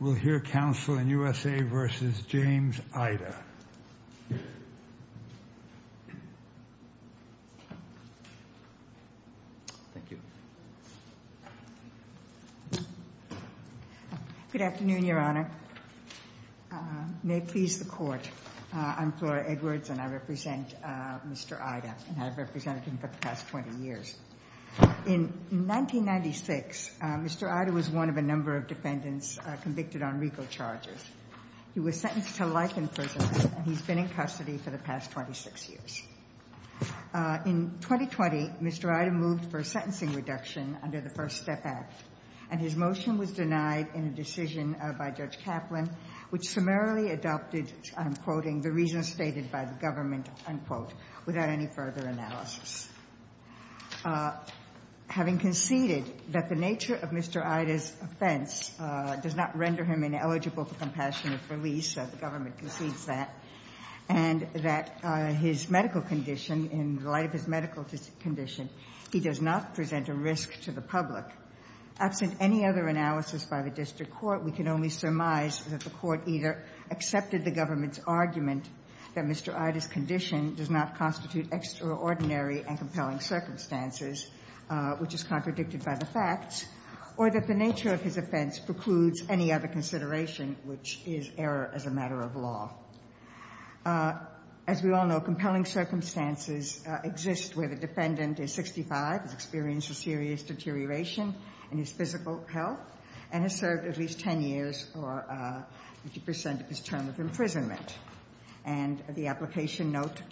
We'll hear counsel in U.S.A. v. James Ida. Thank you. Good afternoon, your honor. May it please the court. I'm Flora Edwards and I represent Mr. Ida. And I've represented him for the past 20 years. In 1996, Mr. Ida was one of a number of defendants convicted on legal charges. He was sentenced to life in prison, and he's been in custody for the past 26 years. In 2020, Mr. Ida moved for a sentencing reduction under the First Step Act. And his motion was denied in a decision by Judge Kaplan, which summarily adopted, I'm quoting, the reasons stated by the government, unquote, without any further analysis. Having conceded that the nature of Mr. Ida's offense does not render him ineligible for compassionate release, the government concedes that, and that his medical condition, in light of his medical condition, he does not present a risk to the public. Absent any other analysis by the district court, we can only surmise that the court either accepted the government's argument that Mr. Ida's condition does not constitute extraordinary and compelling circumstances, which is contradicted by the facts, or that the nature of his offense precludes any other consideration, which is error as a matter of law. As we all know, compelling circumstances exist where the defendant is 65, has experienced a serious deterioration in his physical health, and has served at least 10 years or 50% of his term of imprisonment. And the application note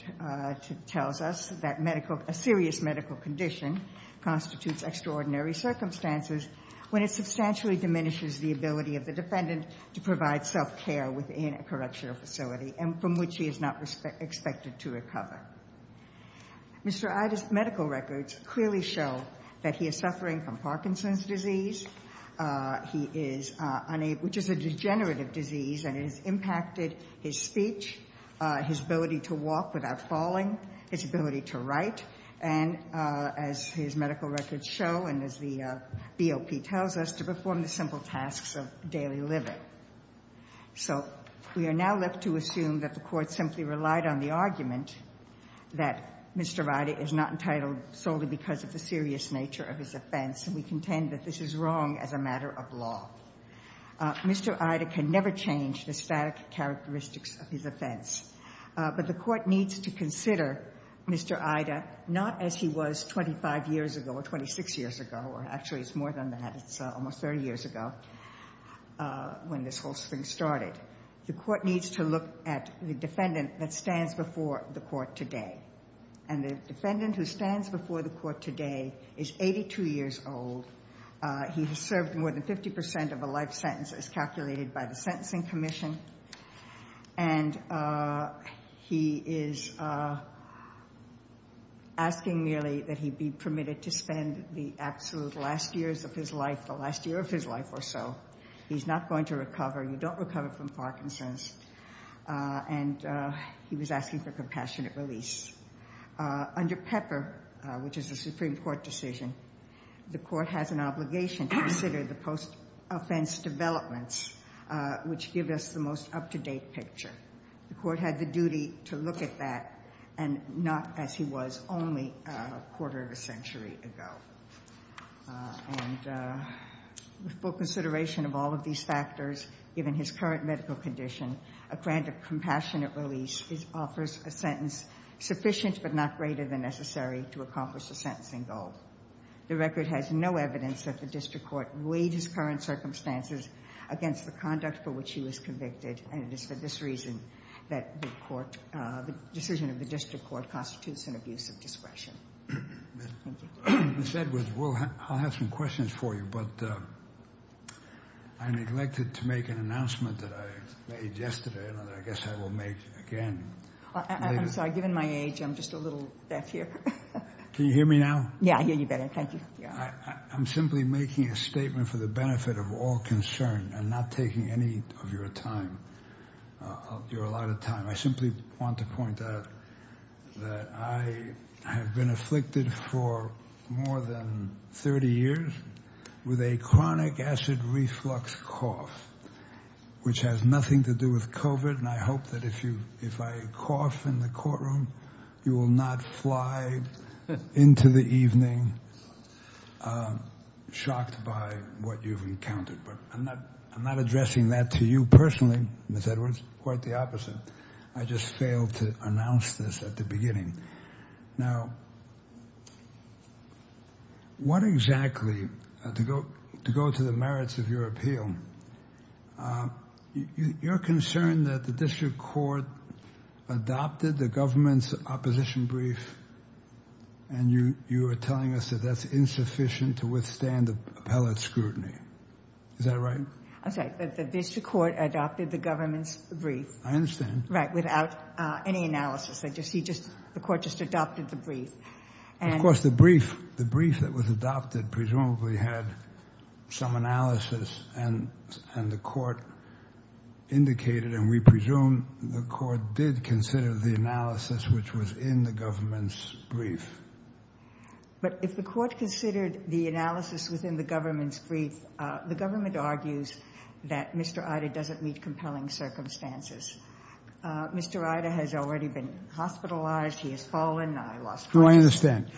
tells us that a serious medical condition constitutes extraordinary circumstances when it substantially diminishes the ability of the defendant to provide self-care within a correctional facility, and from which he is not expected to recover. Mr. Ida's medical records clearly show that he is suffering from Parkinson's disease, which is a degenerative disease, and it has impacted his speech, his ability to walk without falling, his ability to write, and as his medical records show, and as the BOP tells us, to perform the simple tasks of daily living. So we are now left to assume that the Court simply relied on the argument that Mr. Ida is not entitled solely because of the serious nature of his offense, and we contend that this is wrong as a matter of law. Mr. Ida can never change the static characteristics of his offense, but the Court needs to consider Mr. Ida not as he was 25 years ago or 26 years ago, or actually it's more than that. It's almost 30 years ago when this whole thing started. The Court needs to look at the defendant that stands before the Court today, and the defendant who stands before the Court today is 82 years old. He has served more than 50% of a life sentence as calculated by the Sentencing Commission, and he is asking merely that he be permitted to spend the absolute last years of his life, the last year of his life or so. He's not going to recover. You don't recover from Parkinson's, and he was asking for compassionate release. Under Pepper, which is a Supreme Court decision, the Court has an obligation to consider the post-offense developments, which give us the most up-to-date picture. The Court had the duty to look at that and not as he was only a quarter of a century ago. With full consideration of all of these factors, given his current medical condition, a grant of compassionate release offers a sentence sufficient but not greater than necessary to accomplish the sentencing goal. The record has no evidence that the District Court weighed his current circumstances against the conduct for which he was convicted, and it is for this reason that the decision of the District Court constitutes an abuse of discretion. Thank you. Ms. Edwards, I'll have some questions for you, but I neglected to make an announcement that I made yesterday that I guess I will make again later. I'm sorry. Given my age, I'm just a little deaf here. Can you hear me now? Yeah, I hear you better. Thank you. I'm simply making a statement for the benefit of all concerned and not taking any of your time. You're a lot of time. I simply want to point out that I have been afflicted for more than 30 years with a chronic acid reflux cough, which has nothing to do with COVID, and I hope that if I cough in the courtroom, you will not fly into the evening shocked by what you've encountered. But I'm not addressing that to you personally, Ms. Edwards, quite the opposite. I just failed to announce this at the beginning. Now, what exactly, to go to the merits of your appeal, you're concerned that the district court adopted the government's opposition brief and you are telling us that that's insufficient to withstand appellate scrutiny. Is that right? I'm sorry. The district court adopted the government's brief. I understand. Right, without any analysis. The court just adopted the brief. Of course, the brief that was adopted presumably had some analysis and the court indicated and we presume the court did consider the analysis, which was in the government's brief. But if the court considered the analysis within the government's brief, the government argues that Mr. Ida doesn't meet compelling circumstances. Mr. Ida has already been hospitalized. He has fallen. I lost track. No, I understand.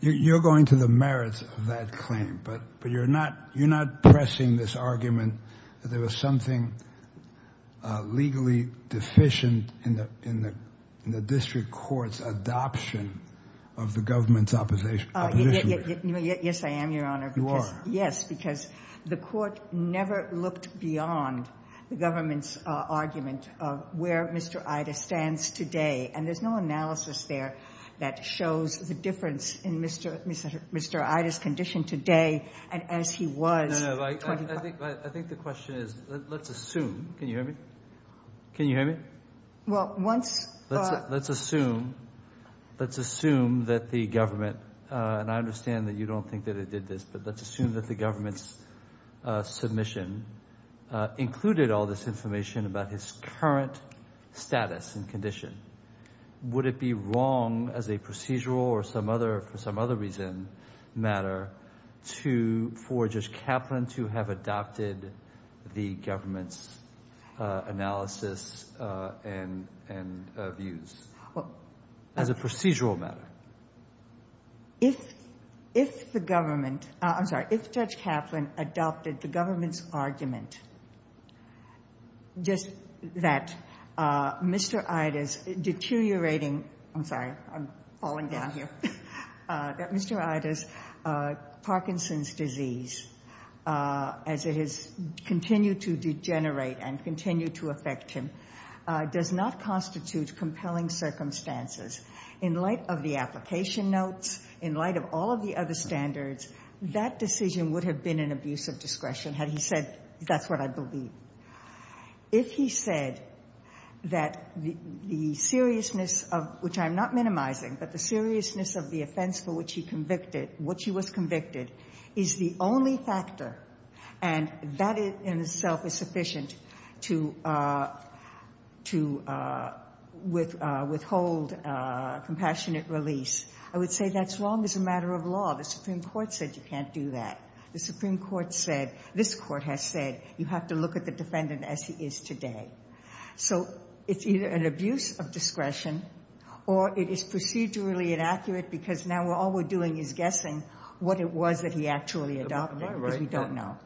You're going to the merits of that claim, but you're not pressing this argument that there was something legally deficient in the district court's adoption of the government's opposition brief. Yes, I am, Your Honor. You are. Yes, because the court never looked beyond the government's argument of where Mr. Ida stands today, and there's no analysis there that shows the difference in Mr. Ida's condition today and as he was. I think the question is let's assume. Can you hear me? Can you hear me? Well, once. Let's assume that the government, and I understand that you don't think that it did this, but let's assume that the government's submission included all this information about his current status and condition. Would it be wrong as a procedural or for some other reason matter for Judge Kaplan to have adopted the government's analysis and views as a procedural matter? If the government, I'm sorry, if Judge Kaplan adopted the government's argument just that Mr. Ida's deteriorating, I'm sorry, I'm falling down here, that Mr. Ida's Parkinson's disease as it has continued to degenerate and continue to affect him does not constitute compelling circumstances in light of the application notes, in light of all of the other standards, that decision would have been an abuse of discretion had he said, that's what I believe. If he said that the seriousness of, which I'm not minimizing, but the seriousness of the offense for which he convicted, which he was convicted, is the only factor and that in itself is sufficient to withhold compassionate release, I would say that's wrong as a matter of law. The Supreme Court said you can't do that. The Supreme Court said, this Court has said, you have to look at the defendant as he is today. So it's either an abuse of discretion or it is procedurally inaccurate because now all we're doing is guessing what it was that he actually adopted because we don't know.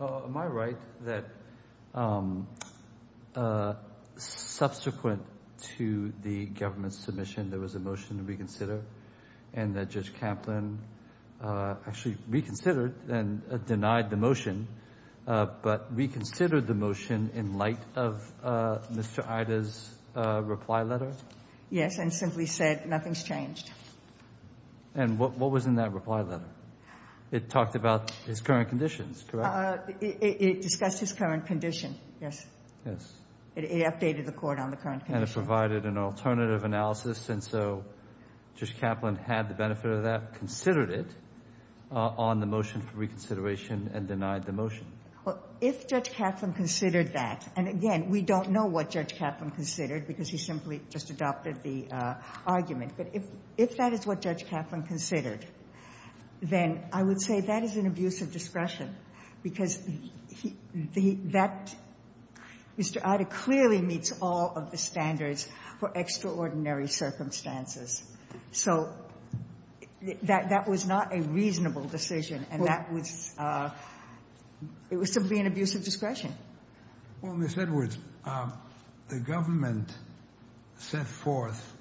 Am I right that subsequent to the government's submission there was a motion to reconsider and that Judge Kaplan actually reconsidered and denied the motion, but reconsidered the motion in light of Mr. Ida's reply letter? Yes, and simply said nothing's changed. And what was in that reply letter? It talked about his current conditions, correct? It discussed his current condition, yes. Yes. It updated the court on the current condition. And it provided an alternative analysis and so Judge Kaplan had the benefit of that, considered it on the motion for reconsideration and denied the motion. Well, if Judge Kaplan considered that, and again, we don't know what Judge Kaplan considered because he simply just adopted the argument. But if that is what Judge Kaplan considered, then I would say that is an abuse of discretion because that Mr. Ida clearly meets all of the standards for extraordinary circumstances. So that was not a reasonable decision and that was simply an abuse of discretion. Well, Ms. Edwards, the government set forth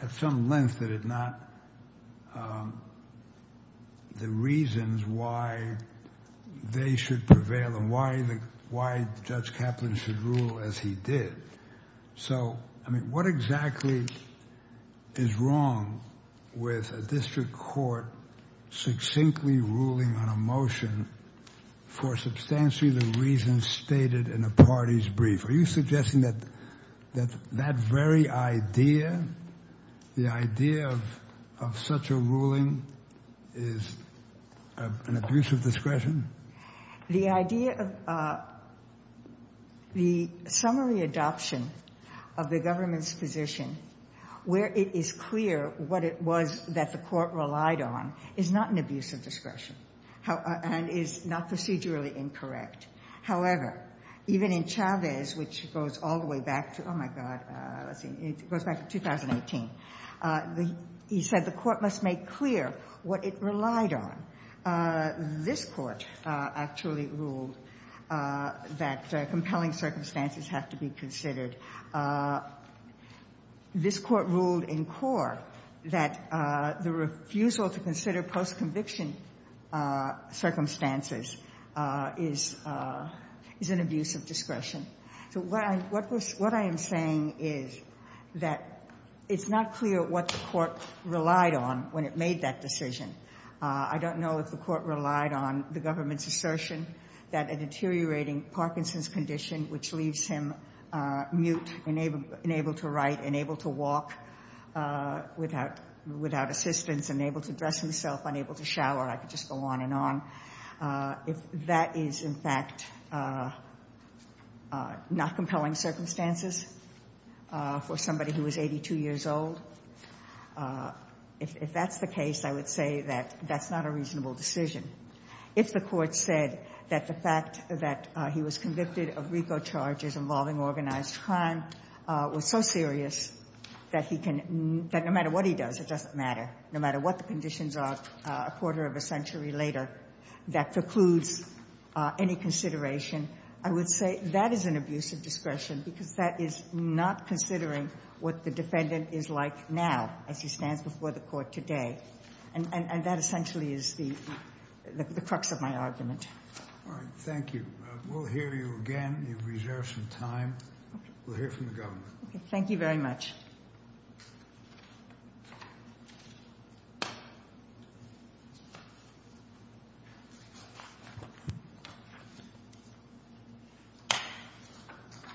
at some length that it not the reasons why they should prevail and why Judge Kaplan should rule as he did. So, I mean, what exactly is wrong with a district court succinctly ruling on a motion for substantially the reasons stated in a party's brief? Are you suggesting that that very idea, the idea of such a ruling is an abuse of discretion? The idea of the summary adoption of the government's position where it is clear what it was that the court relied on is not an abuse of discretion and is not procedurally incorrect. However, even in Chavez, which goes all the way back to, oh my God, it goes back to 2018, he said the court must make clear what it relied on. This court actually ruled that compelling circumstances have to be considered. This court ruled in core that the refusal to consider post-conviction circumstances is an abuse of discretion. So what I am saying is that it's not clear what the court relied on when it made that decision. I don't know if the court relied on the government's assertion that a deteriorating Parkinson's condition, which leaves him mute, unable to write, unable to walk, without assistance, unable to dress himself, unable to shower, I could just go on and on. If that is, in fact, not compelling circumstances for somebody who is 82 years old, if that's the case, I would say that that's not a reasonable decision. If the court said that the fact that he was convicted of RICO charges involving organized crime was so serious that he can no matter what he does, it doesn't matter, no matter what the conditions are a quarter of a century later, that precludes any consideration, I would say that is an abuse of discretion because that is not considering what the defendant is like now as he stands before the court today. And that essentially is the crux of my argument. All right. Thank you. We'll hear you again. You've reserved some time. We'll hear from the government. Thank you very much.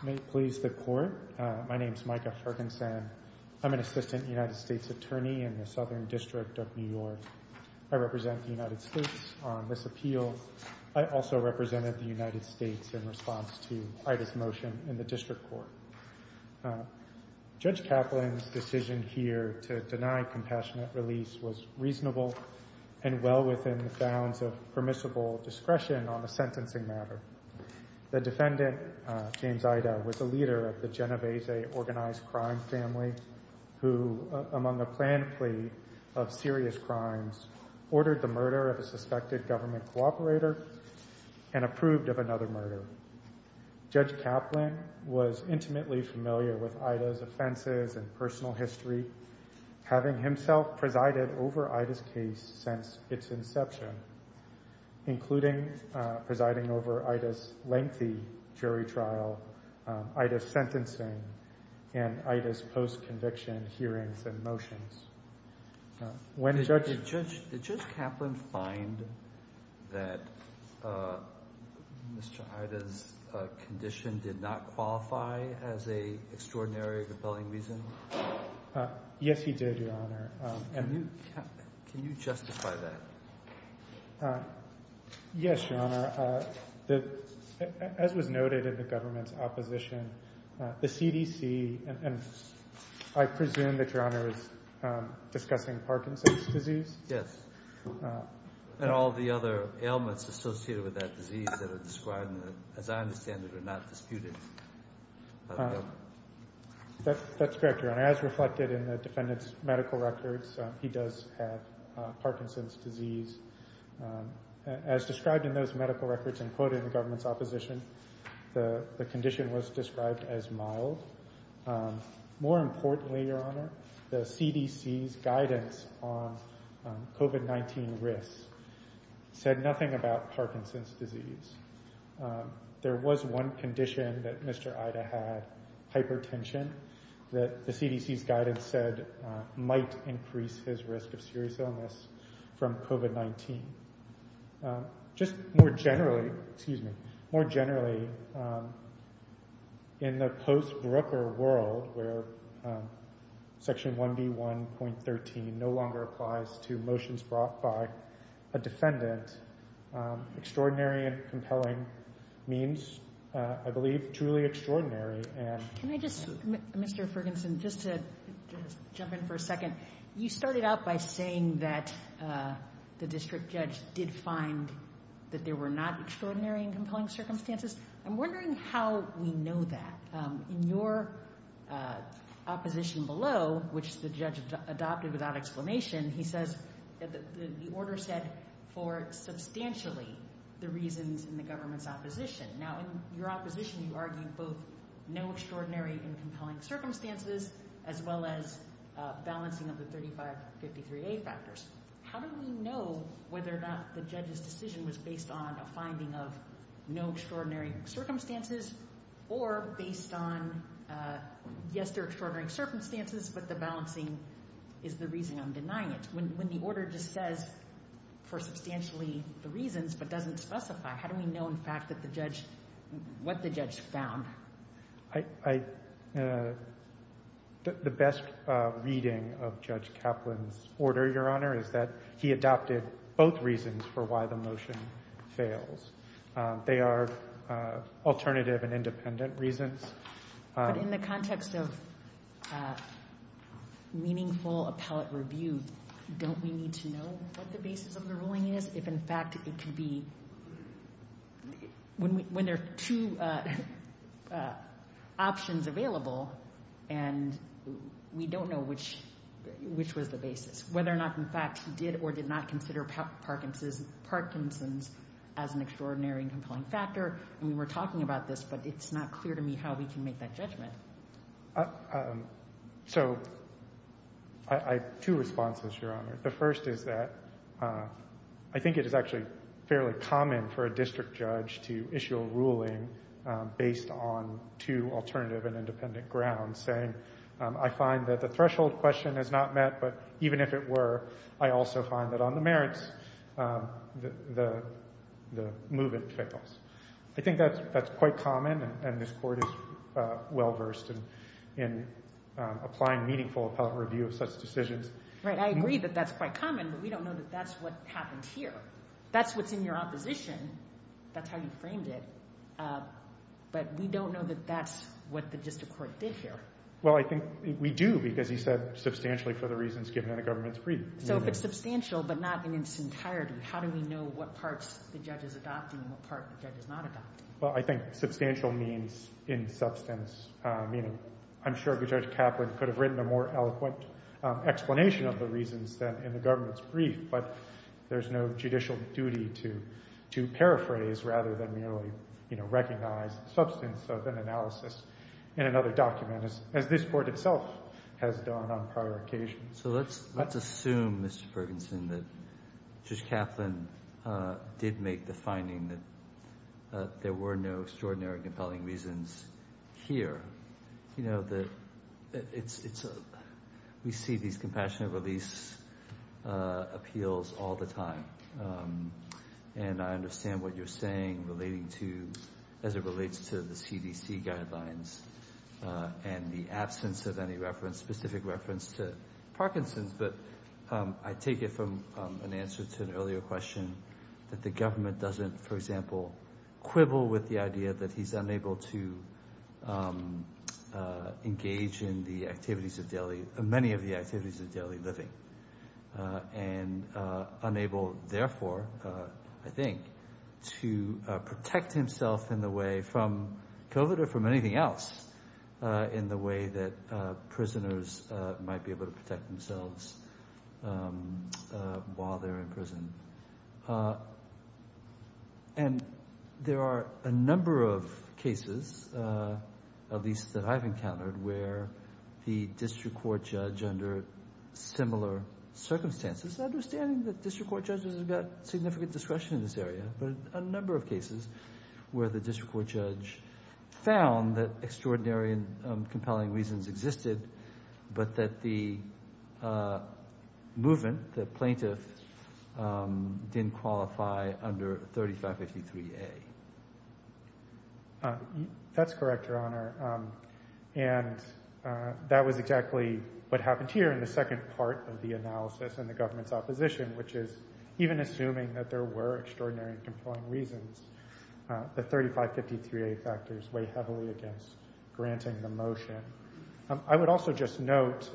May it please the court. My name is Micah Ferguson. I'm an assistant United States attorney in the Southern District of New York. I represent the United States on this appeal. I also represented the United States in response to Ida's motion in the district court. Judge Kaplan's decision here to deny compassionate release was reasonable and well within the bounds of permissible discretion on the sentencing matter. The defendant, James Ida, was a leader of the Genovese organized crime family who, among a planned plea of serious crimes, ordered the murder of a suspected government cooperator and approved of another murder. Judge Kaplan was intimately familiar with Ida's offenses and personal history, having himself presided over Ida's case since its inception, including presiding over Ida's lengthy jury trial, Ida's sentencing, and Ida's post-conviction hearings and motions. Did Judge Kaplan find that Mr. Ida's condition did not qualify as an extraordinary or compelling reason? Yes, he did, Your Honor. Can you justify that? Yes, Your Honor. As was noted in the government's opposition, the CDC, and I presume that Your Honor is discussing Parkinson's disease? Yes. And all the other ailments associated with that disease that are described, as I understand it, are not disputed. That's correct, Your Honor. As reflected in the defendant's medical records, he does have Parkinson's disease. As described in those medical records and quoted in the government's opposition, the condition was described as mild. More importantly, Your Honor, the CDC's guidance on COVID-19 risks said nothing about Parkinson's disease. There was one condition that Mr. Ida had, hypertension, that the CDC's guidance said might increase his risk of serious illness from COVID-19. Just more generally, in the post-Brooker world, where Section 1B1.13 no longer applies to motions brought by a defendant, extraordinary and compelling means, I believe, truly extraordinary. Can I just, Mr. Ferguson, just to jump in for a second, you started out by saying that the district judge did find that there were not extraordinary and compelling circumstances. I'm wondering how we know that. In your opposition below, which the judge adopted without explanation, he says that the order said for substantially the reasons in the government's opposition. Now, in your opposition, you argued both no extraordinary and compelling circumstances as well as balancing of the 3553A factors. How do we know whether or not the judge's decision was based on a finding of no extraordinary circumstances or based on, yes, there are extraordinary circumstances, but the balancing is the reason I'm denying it? When the order just says for substantially the reasons but doesn't specify, how do we know, in fact, what the judge found? The best reading of Judge Kaplan's order, Your Honor, is that he adopted both reasons for why the motion fails. They are alternative and independent reasons. But in the context of meaningful appellate review, don't we need to know what the basis of the ruling is? If, in fact, it could be when there are two options available and we don't know which was the basis, whether or not, in fact, he did or did not consider Parkinson's as an extraordinary and compelling factor. We were talking about this, but it's not clear to me how we can make that judgment. So, I have two responses, Your Honor. The first is that I think it is actually fairly common for a district judge to issue a ruling based on two alternative and independent grounds, saying I find that the threshold question is not met, but even if it were, I also find that on the merits, the movement fails. I think that's quite common, and this Court is well-versed in applying meaningful appellate review of such decisions. Right. I agree that that's quite common, but we don't know that that's what happened here. That's what's in your opposition. That's how you framed it. But we don't know that that's what the district court did here. Well, I think we do, because he said substantially for the reasons given in the government's brief. So, if it's substantial but not in its entirety, how do we know what parts the judge is adopting and what parts the judge is not adopting? Well, I think substantial means in substance. I'm sure Judge Kaplan could have written a more eloquent explanation of the reasons than in the government's brief, but there's no judicial duty to paraphrase rather than merely recognize the substance of an analysis in another document, as this Court itself has done on prior occasions. So let's assume, Mr. Ferguson, that Judge Kaplan did make the finding that there were no extraordinary compelling reasons here. You know, we see these compassionate release appeals all the time, and I understand what you're saying as it relates to the CDC guidelines and the absence of any specific reference to Parkinson's, but I take it from an answer to an earlier question that the government doesn't, for example, quibble with the idea that he's unable to engage in many of the activities of daily living and unable, therefore, I think, to protect himself in the way from COVID or from anything else in the way that prisoners might be able to protect themselves while they're in prison. And there are a number of cases, at least that I've encountered, where the district court judge under similar circumstances, understanding that district court judges have got significant discretion in this area, but a number of cases where the district court judge found that extraordinary and compelling reasons existed but that the movement, the plaintiff, didn't qualify under 3553A. That's correct, Your Honor, and that was exactly what happened here in the second part of the analysis in the government's opposition, which is even assuming that there were extraordinary and compelling reasons, the 3553A factors weigh heavily against granting the motion. I would also just note,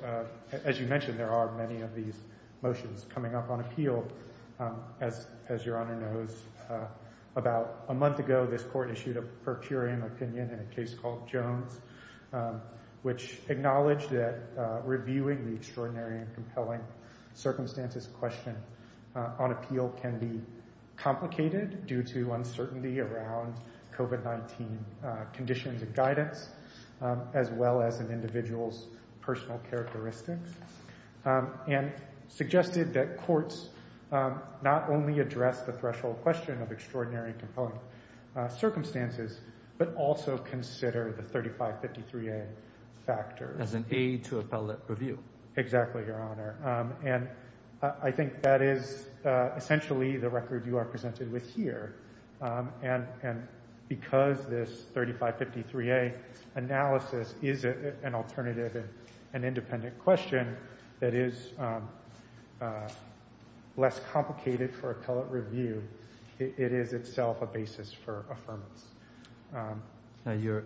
as you mentioned, there are many of these motions coming up on appeal. As Your Honor knows, about a month ago, this court issued a per curiam opinion in a case called Jones, which acknowledged that reviewing the extraordinary and compelling circumstances question on appeal can be complicated due to uncertainty around COVID-19 conditions and guidance, as well as an individual's personal characteristics, and suggested that courts not only address the threshold question of extraordinary and compelling circumstances, but also consider the 3553A factors. As an aid to appellate review. Exactly, Your Honor, and I think that is essentially the record you are presented with here, and because this 3553A analysis is an alternative and independent question that is less complicated for appellate review, it is itself a basis for affirmance. Now,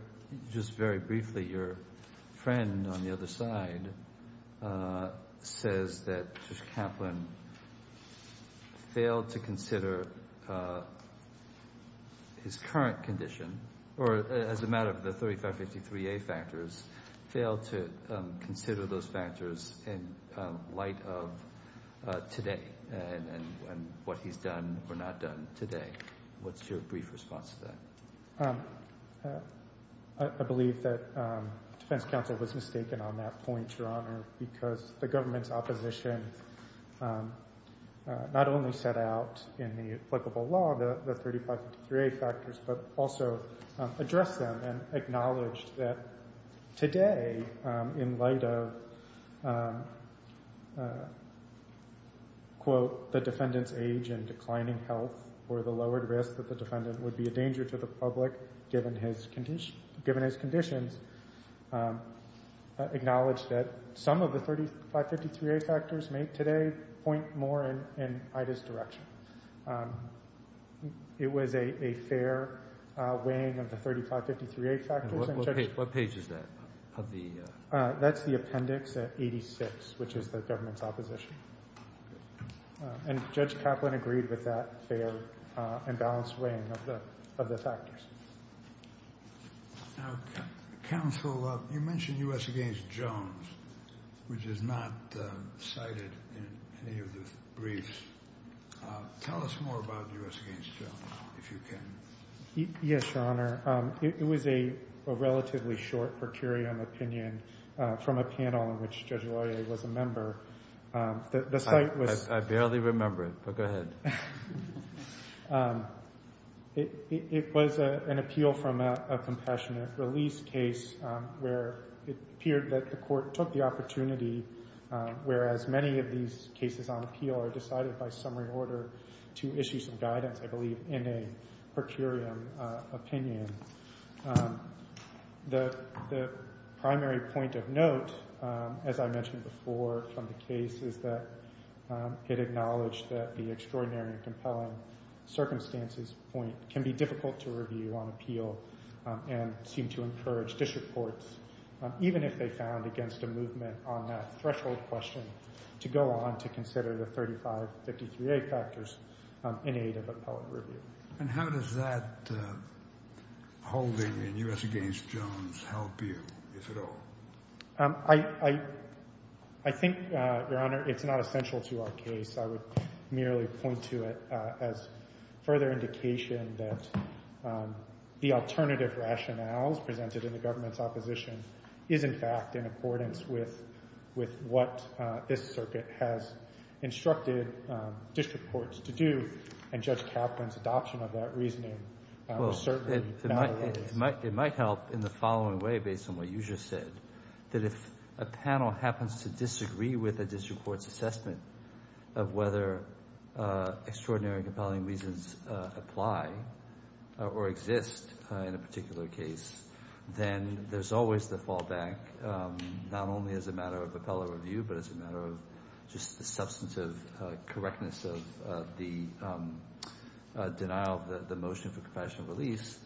just very briefly, your friend on the other side says that Judge Kaplan failed to consider his current condition, or as a matter of the 3553A factors, failed to consider those factors in light of today, and what he's done or not done today. What's your brief response to that? I believe that defense counsel was mistaken on that point, Your Honor, because the government's opposition not only set out in the applicable law the 3553A factors, but also addressed them and acknowledged that today, in light of, quote, the defendant's age and declining health or the lowered risk that the defendant would be a danger to the public, given his conditions, acknowledged that some of the 3553A factors may today point more in Ida's direction. It was a fair weighing of the 3553A factors. What page is that? That's the appendix at 86, which is the government's opposition. And Judge Kaplan agreed with that fair and balanced weighing of the factors. Now, counsel, you mentioned U.S. v. Jones, which is not cited in any of the briefs. Tell us more about U.S. v. Jones, if you can. Yes, Your Honor. It was a relatively short per curiam opinion from a panel in which Judge Loyer was a member. I barely remember it, but go ahead. It was an appeal from a compassionate release case where it appeared that the court took the opportunity, whereas many of these cases on appeal are decided by summary order to issue some guidance, I believe, in a per curiam opinion. The primary point of note, as I mentioned before from the case, is that it acknowledged that the extraordinary and compelling circumstances point can be difficult to review on appeal and seemed to encourage district courts, even if they found against a movement on that threshold question, to go on to consider the 3553A factors in aid of appellate review. And how does that holding in U.S. v. Jones help you, if at all? I think, Your Honor, it's not essential to our case. I would merely point to it as further indication that the alternative rationales presented in the government's opposition is, in fact, in accordance with what this circuit has instructed district courts to do, and Judge Kaplan's adoption of that reasoning certainly validates it. It might help in the following way, based on what you just said, that if a panel happens to disagree with a district court's assessment of whether extraordinary and compelling reasons apply or exist in a particular case, then there's always the fallback, not only as a matter of appellate review, but as a matter of just the substantive correctness of the denial of the motion for compassionate release,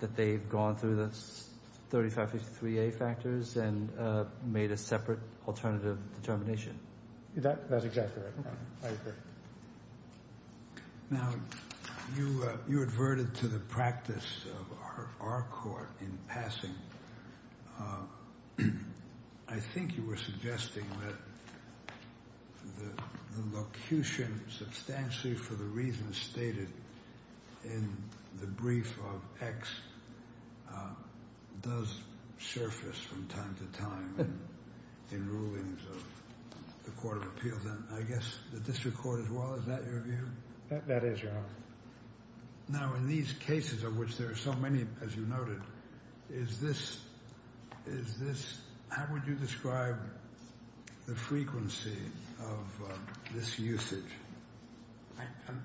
that they've gone through the 3553A factors and made a separate alternative determination. That's exactly right. I agree. Now, you adverted to the practice of our court in passing. I think you were suggesting that the locution substantially for the reasons stated in the brief of X does surface from time to time in rulings of the Court of Appeals. I guess the district court as well. Is that your view? That is, Your Honor. Now, in these cases of which there are so many, as you noted, is this – how would you describe the frequency of this usage?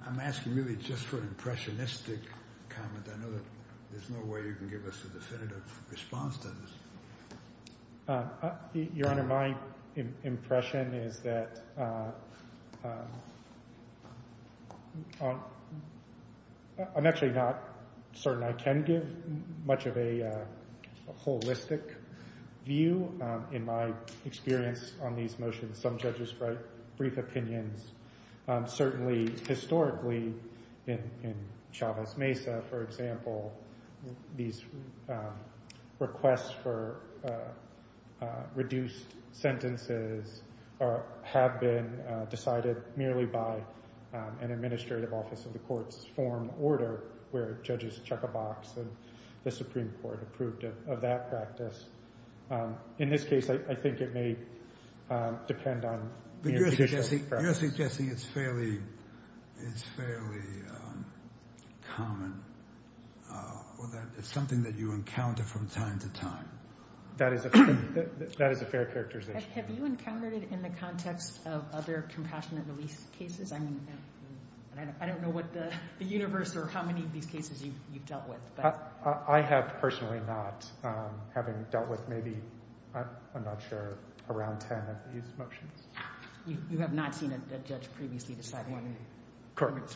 I'm asking really just for an impressionistic comment. I know that there's no way you can give us a definitive response to this. Your Honor, my impression is that I'm actually not certain I can give much of a holistic view. In my experience on these motions, some judges write brief opinions. Certainly, historically, in Chavez Mesa, for example, these requests for reduced sentences have been decided merely by an administrative office of the court's form order where judges check a box and the Supreme Court approved of that practice. In this case, I think it may depend on the judicial process. You're suggesting it's fairly common or that it's something that you encounter from time to time. That is a fair characterization. Have you encountered it in the context of other compassionate release cases? I mean, I don't know what the universe or how many of these cases you've dealt with. I have personally not, having dealt with maybe, I'm not sure, around ten of these motions. You have not seen a judge previously decide one? Correct.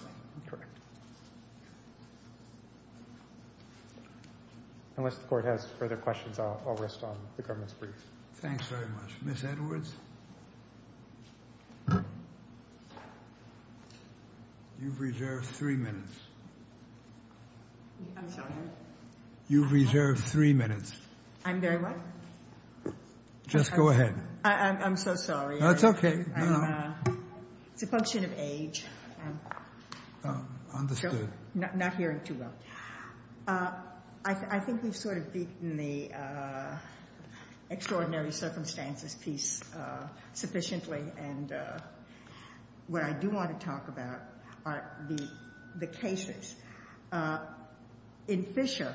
Unless the court has further questions, I'll rest on the government's brief. Thanks very much. Ms. Edwards? You've reserved three minutes. I'm sorry? You've reserved three minutes. I'm very what? Just go ahead. I'm so sorry. That's okay. It's a function of age. Understood. Not hearing too well. I think we've sort of beaten the extraordinary circumstances piece sufficiently, and what I do want to talk about are the cases. In Fisher,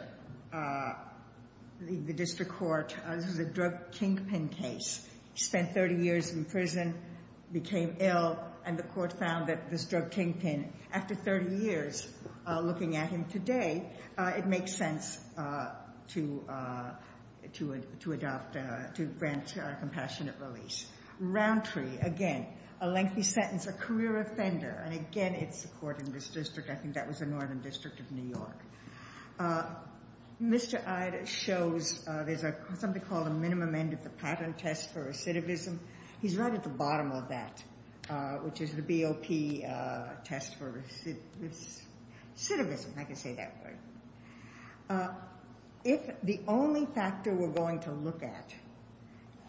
the district court, this was a drug kingpin case. He spent 30 years in prison, became ill, and the court found that this drug kingpin, after 30 years looking at him today, it makes sense to adopt, to grant a compassionate release. Roundtree, again, a lengthy sentence, a career offender, and again, it's a court in this district. I think that was the Northern District of New York. Mr. Eyde shows there's something called a minimum end of the pattern test for recidivism. He's right at the bottom of that, which is the BOP test for recidivism. I can say that word. If the only factor we're going to look at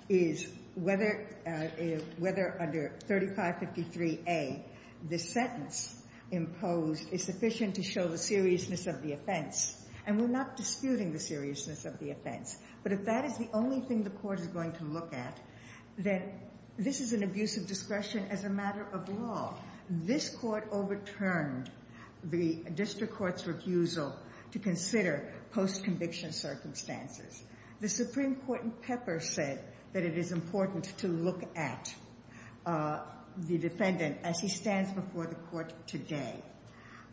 is whether under 3553A, this sentence imposed is sufficient to show the seriousness of the offense, and we're not disputing the seriousness of the offense, but if that is the only thing the court is going to look at, then this is an abuse of discretion as a matter of law. This court overturned the district court's refusal to consider post-conviction circumstances. The Supreme Court in Pepper said that it is important to look at the defendant as he stands before the court today.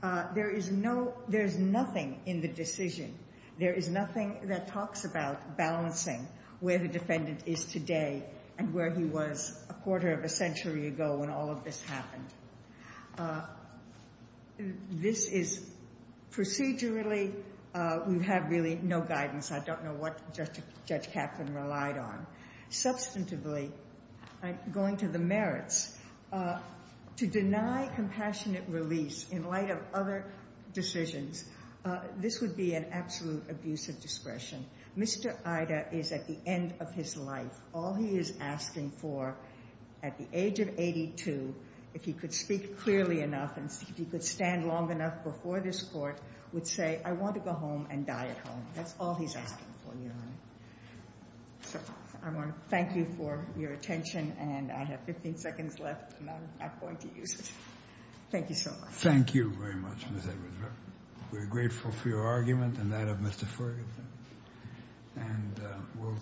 There is nothing in the decision, there is nothing that talks about balancing where the defendant is today and where he was a quarter of a century ago when all of this happened. This is procedurally, we have really no guidance. I don't know what Judge Kaplan relied on. Substantively, going to the merits, to deny compassionate release in light of other decisions, this would be an absolute abuse of discretion. Mr. Eyde is at the end of his life. All he is asking for at the age of 82, if he could speak clearly enough and if he could stand long enough before this court, would say, I want to go home and die at home. That's all he's asking for, Your Honor. I want to thank you for your attention, and I have 15 seconds left, and I'm not going to use it. Thank you so much. Thank you very much, Ms. Edwards. We're grateful for your argument and that of Mr. Ferguson.